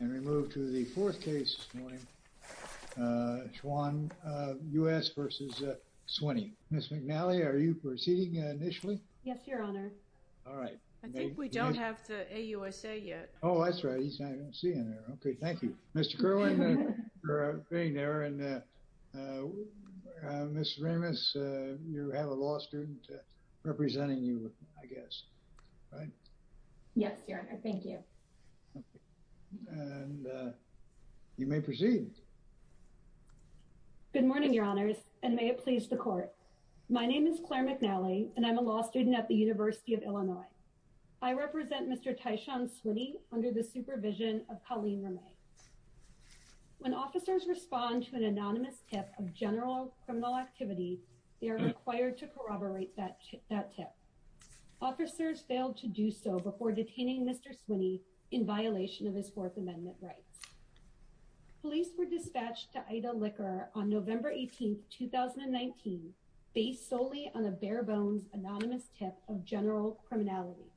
And we move to the fourth case this morning, Swann U.S. v. Swinney. Ms. McNally, are you proceeding initially? Yes, your honor. All right. I think we don't have the AUSA yet. Oh, that's right. He's not even seeing it. Okay, thank you. Mr. Kerwin, you're out of the green there, and Ms. Ramos, you have a law student representing you, I guess, right? Yes, your honor. Thank you. And you may proceed. Good morning, your honors, and may it please the court. My name is Claire McNally, and I'm a law student at the University of Illinois. I represent Mr. Tyshawn Swinney under the supervision of Colleen Ramey. When officers respond to an anonymous tip of general criminal activity, they are required to corroborate that tip. Officers failed to do so before detaining Mr. Swinney in violation of his Fourth Amendment rights. Police were dispatched to Ida Liquor on November 18th, 2019 based solely on a bare bones anonymous tip of general criminality,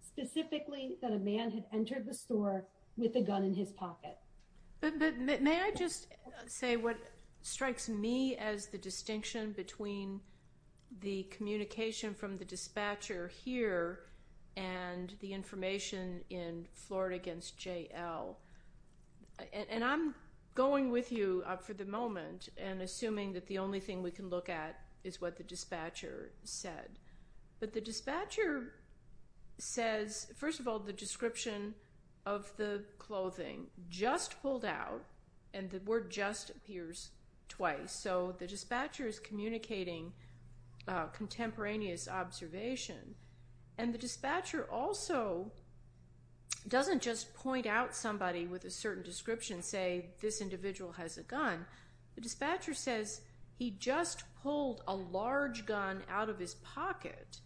specifically that a man had entered the store with a gun in his pocket. But may I just say what strikes me as the distinction between the communication from the dispatcher here and the information in Florida against J.L.? And I'm going with you for the moment and assuming that the only thing we can look at is what the dispatcher said. But the dispatcher says, first of all, the description of the clothing just pulled out, and the word just appears twice. So the dispatcher is communicating contemporaneous observation. And the dispatcher also doesn't just point out somebody with a certain description, say, this individual has a gun. The dispatcher says he just pulled a large gun out of his pocket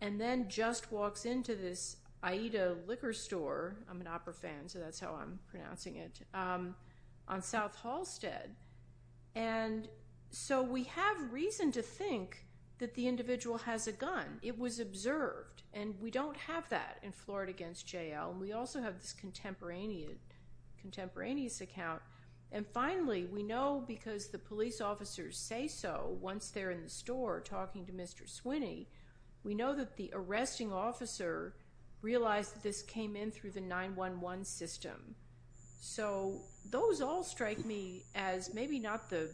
and then just walks into this Ida Liquor store, I'm an opera fan, so that's how I'm pronouncing it, on South Halsted. that the individual has a gun. It was observed. And we don't have that in Florida against J.L. We also have this contemporaneous account. And finally, we know because the police officers say so once they're in the store talking to Mr. Swinney, we know that the arresting officer realized that this came in through the 911 system. So those all strike me as maybe not the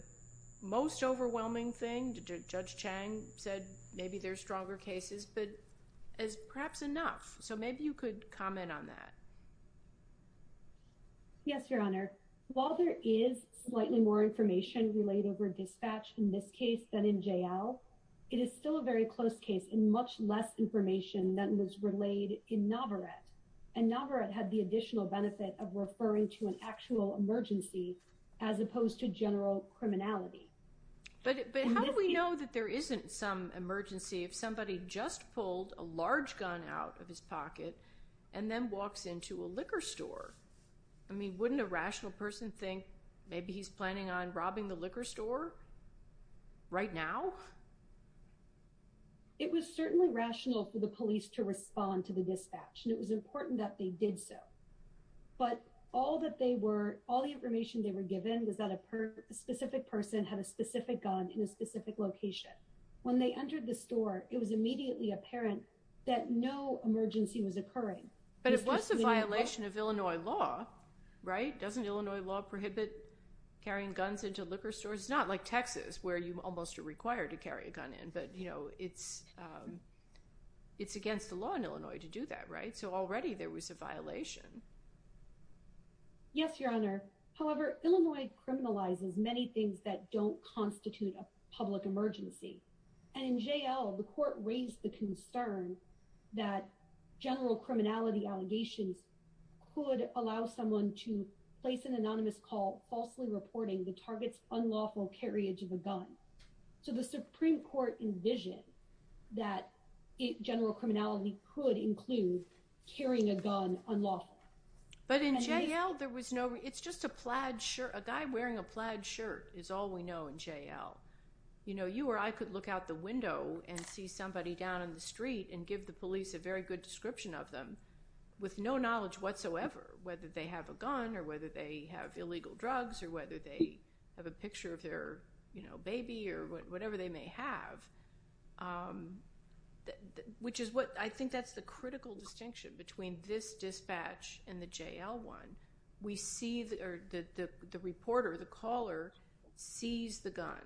most overwhelming thing. Judge Chang said maybe there's stronger cases, but as perhaps enough. So maybe you could comment on that. Yes, Your Honor. While there is slightly more information relayed over dispatch in this case than in J.L., it is still a very close case and much less information than was relayed in Navarette. And Navarette had the additional benefit of referring to an actual emergency as opposed to general criminality. But how do we know that there isn't some emergency if somebody just pulled a large gun out of his pocket and then walks into a liquor store? I mean, wouldn't a rational person think maybe he's planning on robbing the liquor store right now? It was certainly rational for the police to respond to the dispatch. And it was important that they did so. But all the information they were given was that a specific person had a specific gun in a specific location. When they entered the store, it was immediately apparent that no emergency was occurring. But it was a violation of Illinois law, right? Doesn't Illinois law prohibit carrying guns into liquor stores? It's not like Texas, where you almost are required to carry a gun in, but it's against the law in Illinois to do that, right? So already there was a violation. Yes, Your Honor. However, Illinois criminalizes many things that don't constitute a public emergency. And in JL, the court raised the concern that general criminality allegations could allow someone to place an anonymous call falsely reporting the target's unlawful carriage of a gun. So the Supreme Court envisioned that general criminality could include carrying a gun unlawfully. But in JL, there was no, it's just a plaid shirt. A guy wearing a plaid shirt is all we know in JL. You know, you or I could look out the window and see somebody down in the street and give the police a very good description of them with no knowledge whatsoever, whether they have a gun or whether they have illegal drugs or whether they have a picture of their baby or whatever they may have. Which is what, I think that's the critical distinction between this dispatch and the JL one. We see the reporter, the caller sees the gun.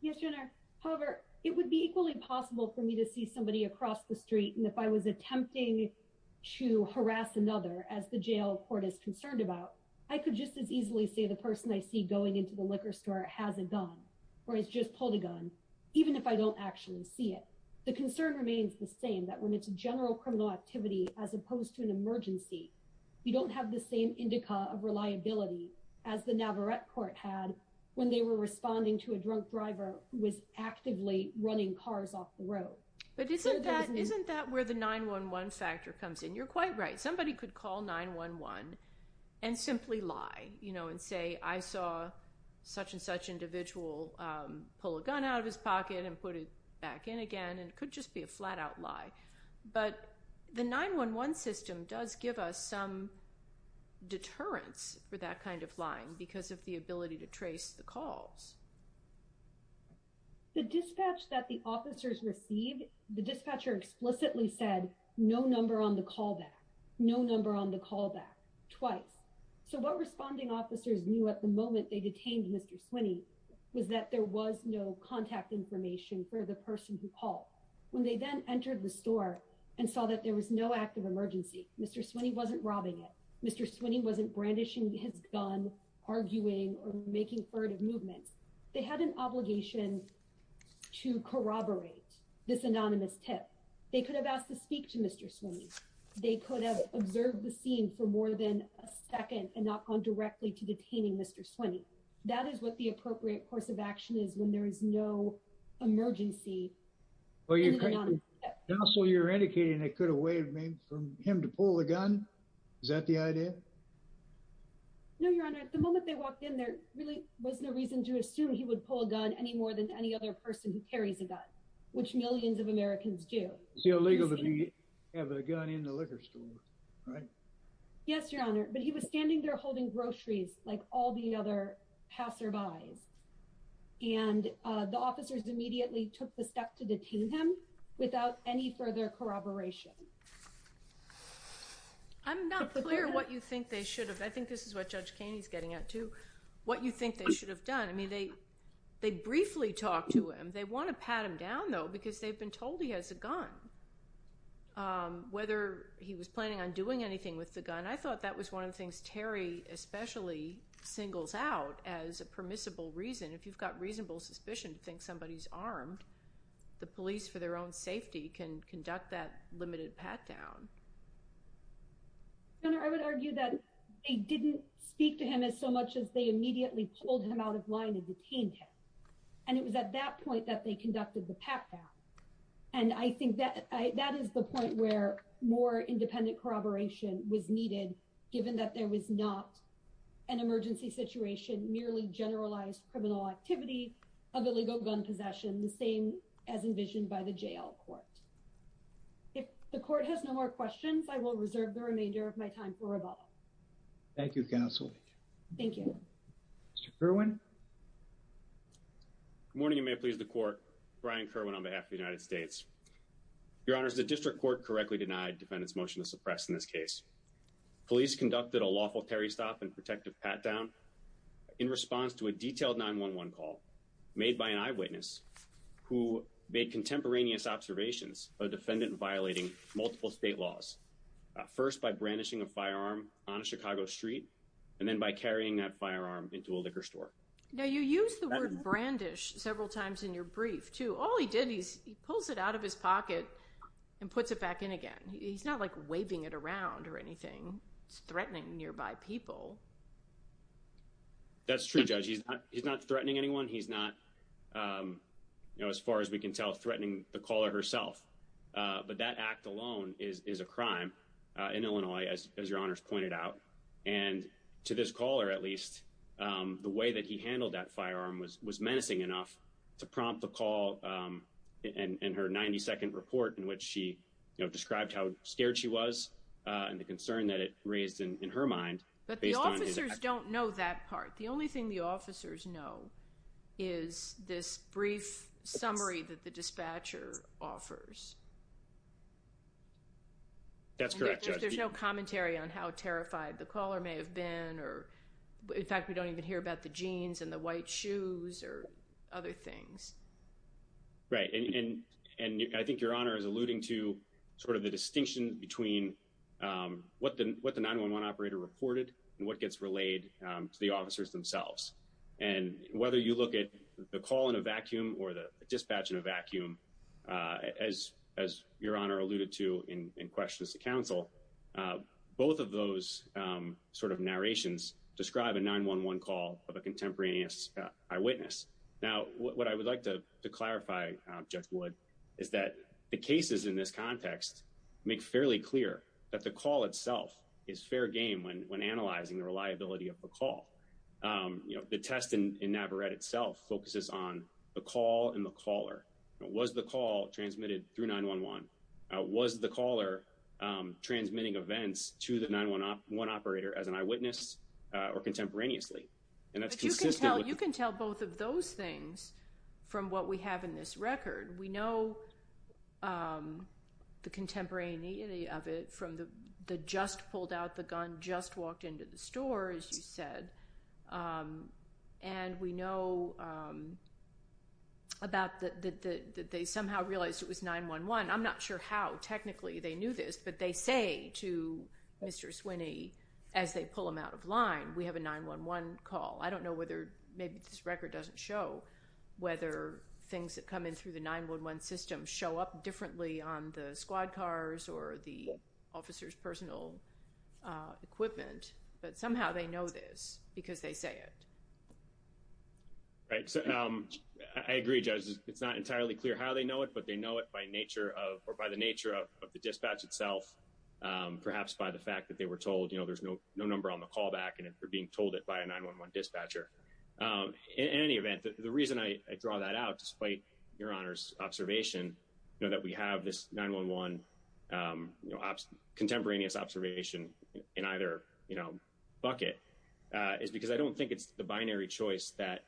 Yes, Your Honor. However, it would be equally possible for me to see somebody across the street. And if I was attempting to harass another as the JL court is concerned about, I could just as easily say the person I see going into the liquor store has a gun or has just pulled a gun, even if I don't actually see it. The concern remains the same that when it's a general criminal activity, as opposed to an emergency, you don't have the same indica of reliability as the Navarrette court had when they were responding to a drunk driver who was actively running cars off the road. But isn't that where the 911 factor comes in? You're quite right. Somebody could call 911 and simply lie, you know, and say, I saw such and such individual pull a gun out of his pocket and put it back in again. And it could just be a flat out lie. But the 911 system does give us some deterrence for that kind of lying because of the ability to trace the calls. The dispatch that the officers received, the dispatcher explicitly said, no number on the callback, no number on the callback, twice. So what responding officers knew at the moment that they detained Mr. Swinney was that there was no contact information for the person who called. When they then entered the store and saw that there was no active emergency, Mr. Swinney wasn't robbing it. Mr. Swinney wasn't brandishing his gun, arguing or making furtive movements. They had an obligation to corroborate this anonymous tip. They could have asked to speak to Mr. Swinney. They could have observed the scene for more than a second and not gone directly to detaining Mr. Swinney. That is what the appropriate course of action is when there is no emergency. Well, you're indicating they could have waived him from him to pull the gun. Is that the idea? No, Your Honor. At the moment they walked in, there really was no reason to assume he would pull a gun any more than any other person who carries a gun, which millions of Americans do. It's illegal to have a gun in the liquor store, right? Yes, Your Honor. But he was standing there holding groceries like all the other passerbys. And the officers immediately took the step to detain him without any further corroboration. I'm not clear what you think they should have, I think this is what Judge Kaney is getting at too, what you think they should have done. I mean, they briefly talked to him. They wanna pat him down though, because they've been told he has a gun. Whether he was planning on doing anything with the gun, and I thought that was one of the things Terry especially singles out as a permissible reason. If you've got reasonable suspicion to think somebody's armed, the police for their own safety can conduct that limited pat down. Your Honor, I would argue that they didn't speak to him as so much as they immediately pulled him out of line and detained him. And it was at that point that they conducted the pat down. And I think that is the point where more independent corroboration was needed, given that there was not an emergency situation, merely generalized criminal activity of illegal gun possession, the same as envisioned by the jail court. If the court has no more questions, I will reserve the remainder of my time for rebuttal. Thank you, counsel. Thank you. Mr. Kerwin. Good morning, you may please the court. Brian Kerwin on behalf of the United States. Your Honor, the district court correctly denied defendant's motion to suppress in this case. Police conducted a lawful Terry stop and protective pat down in response to a detailed 911 call made by an eyewitness who made contemporaneous observations of defendant violating multiple state laws. First, by brandishing a firearm on a Chicago street, and then by carrying that firearm into a liquor store. Now you use the word brandish several times in your brief too. All he did, he pulls it out of his pocket and puts it back in again. He's not like waving it around or anything. It's threatening nearby people. That's true, Judge. He's not threatening anyone. He's not, you know, as far as we can tell, threatening the caller herself. But that act alone is a crime in Illinois, as your Honor's pointed out. And to this caller, at least, the way that he handled that firearm was menacing enough to prompt the call in her 92nd report in which she, you know, described how scared she was and the concern that it raised in her mind. But the officers don't know that part. The only thing the officers know is this brief summary that the dispatcher offers. That's correct, Judge. There's no commentary on how terrified the caller may have been, or in fact, we don't even hear about the jeans and the white shoes or other things. Right, and I think your Honor is alluding to sort of the distinction between what the 911 operator reported and what gets relayed to the officers themselves. And whether you look at the call in a vacuum or the dispatch in a vacuum, as your Honor alluded to in questions to counsel, both of those sort of narrations describe a 911 call of a contemporaneous eyewitness. Now, what I would like to clarify, Judge Wood, is that the cases in this context make fairly clear that the call itself is fair game when analyzing the reliability of the call. The test in Navarette itself focuses on the call and the caller. Was the call transmitted through 911? Was the caller transmitting events to the 911 operator as an eyewitness or contemporaneously? And that's consistent with- You can tell both of those things from what we have in this record. We know the contemporaneity of it from the just pulled out the gun, just walked into the store, as you said. And we know about that they somehow realized it was 911. I'm not sure how technically they knew this, but they say to Mr. Swinney, as they pull him out of line, we have a 911 call. I don't know whether, maybe this record doesn't show whether things that come in through the 911 system show up differently on the squad cars or the officer's personal equipment, but somehow they know this because they say it. Right, so I agree, Judge. It's not entirely clear how they know it, but they know it by nature of, or by the nature of the dispatch itself, perhaps by the fact that they were told, there's no number on the callback and they're being told it by a 911 dispatcher. In any event, the reason I draw that out, despite Your Honor's observation, that we have this 911 contemporaneous observation in either bucket is because I don't think it's the binary choice that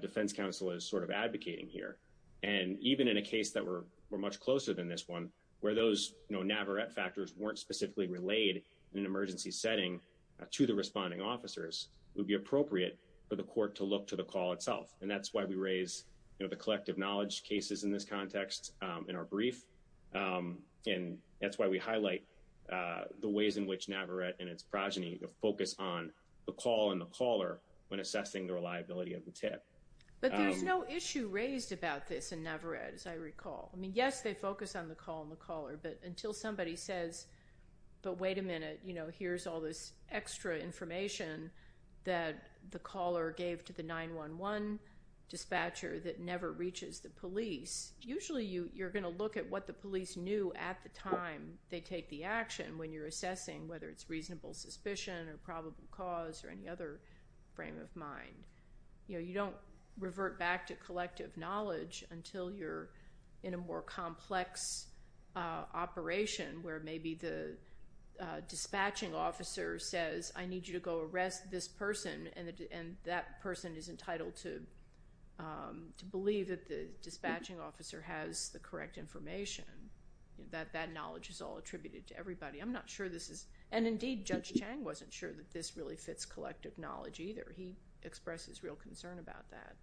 defense counsel is sort of advocating here. And even in a case that we're much closer than this one, where those Navarette factors weren't specifically relayed in an emergency setting to the responding officers, it would be appropriate for the court to look to the call itself. And that's why we raise the collective knowledge cases in this context in our brief. And that's why we highlight the ways in which Navarette and its progeny focus on the call and the caller when assessing the reliability of the tip. But there's no issue raised about this in Navarette, as I recall. I mean, yes, they focus on the call and the caller, but until somebody says, but wait a minute, here's all this extra information that the caller gave to the 911 dispatcher that never reaches the police, usually you're gonna look at what the police knew at the time they take the action when you're assessing whether it's reasonable suspicion or probable cause or any other frame of mind. You don't revert back to collective knowledge until you're in a more complex operation where maybe the dispatching officer says, I need you to go arrest this person, and that person is entitled to believe that the dispatching officer has the correct information, that that knowledge is all attributed to everybody. I'm not sure this is, and indeed, Judge Chang wasn't sure that this really fits collective knowledge either. He expressed his real concern about that.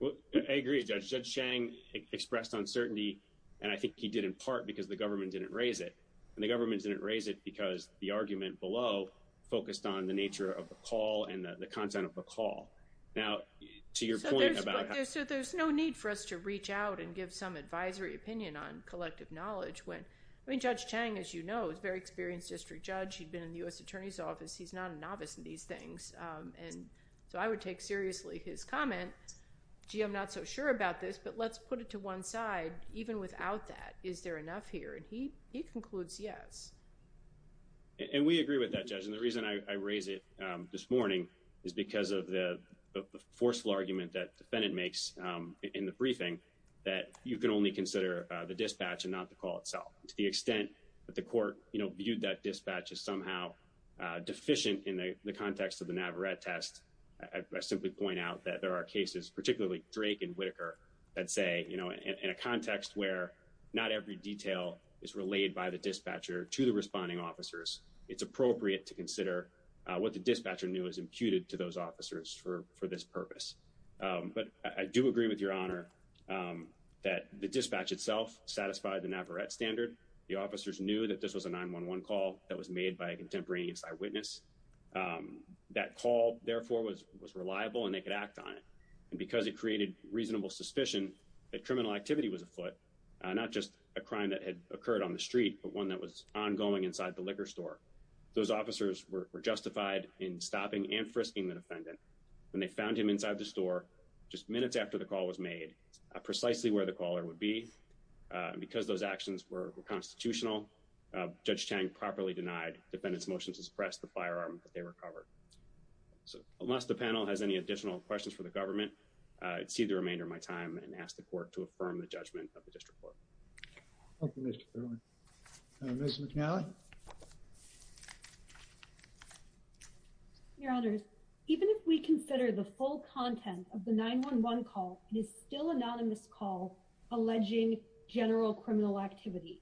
Well, I agree, Judge. Judge Chang expressed uncertainty, and I think he did in part because the government didn't raise it, and the government didn't raise it because the argument below focused on the nature of the call and the content of the call. Now, to your point about how- So there's no need for us to reach out and give some advisory opinion on collective knowledge when, I mean, Judge Chang, as you know, is a very experienced district judge. He'd been in the U.S. Attorney's Office. He's not a novice in these things, and so I would take seriously his comment. Gee, I'm not so sure about this, but let's put it to one side. Even without that, is there enough here? And he concludes yes. And we agree with that, Judge, and the reason I raise it this morning is because of the forceful argument that the defendant makes in the briefing that you can only consider the dispatch and not the call itself. To the extent that the court viewed that dispatch as somehow deficient in the context of the Navarette test, I simply point out that there are cases, particularly Drake and Whitaker, that say in a context where not every detail is relayed by the dispatcher to the responding officers, it's appropriate to consider what the dispatcher knew is imputed to those officers for this purpose. But I do agree with your honor that the dispatch itself satisfied the Navarette standard. The officers knew that this was a 911 call that was made by a contemporaneous eyewitness. That call, therefore, was reliable, and they could act on it. And because it created reasonable suspicion that criminal activity was afoot, not just a crime that had occurred on the street, but one that was ongoing inside the liquor store, those officers were justified in stopping and frisking the defendant. When they found him inside the store just minutes after the call was made, precisely where the caller would be, because those actions were constitutional, Judge Chang properly denied defendants' motion to suppress the firearm that they recovered. So unless the panel has any additional questions for the government, I'd cede the remainder of my time and ask the court to affirm the judgment of the district court. Thank you, Mr. Thurmond. Ms. McNally? Your honors, even if we consider the full content of the 911 call, it is still anonymous call alleging general criminal activity.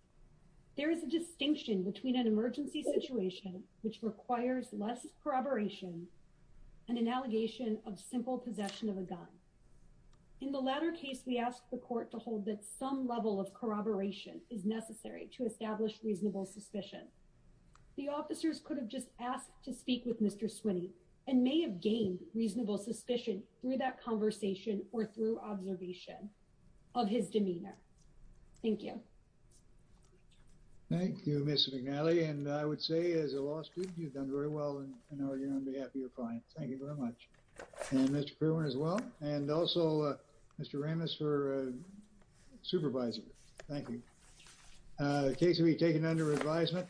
There is a distinction between an emergency situation, which requires less corroboration, and an allegation of simple possession of a gun. In the latter case, we ask the court to hold that some level of corroboration is necessary to establish reasonable suspicion. The officers could have just asked to speak with Mr. Swinney and may have gained reasonable suspicion through that conversation or through observation of his demeanor. Thank you. Thank you, Ms. McNally. And I would say, as a law student, you've done very well in arguing on behalf of your clients. Thank you very much. And Mr. Kirwan as well, and also Mr. Ramos for supervisor. Thank you. The case will be taken under advisement.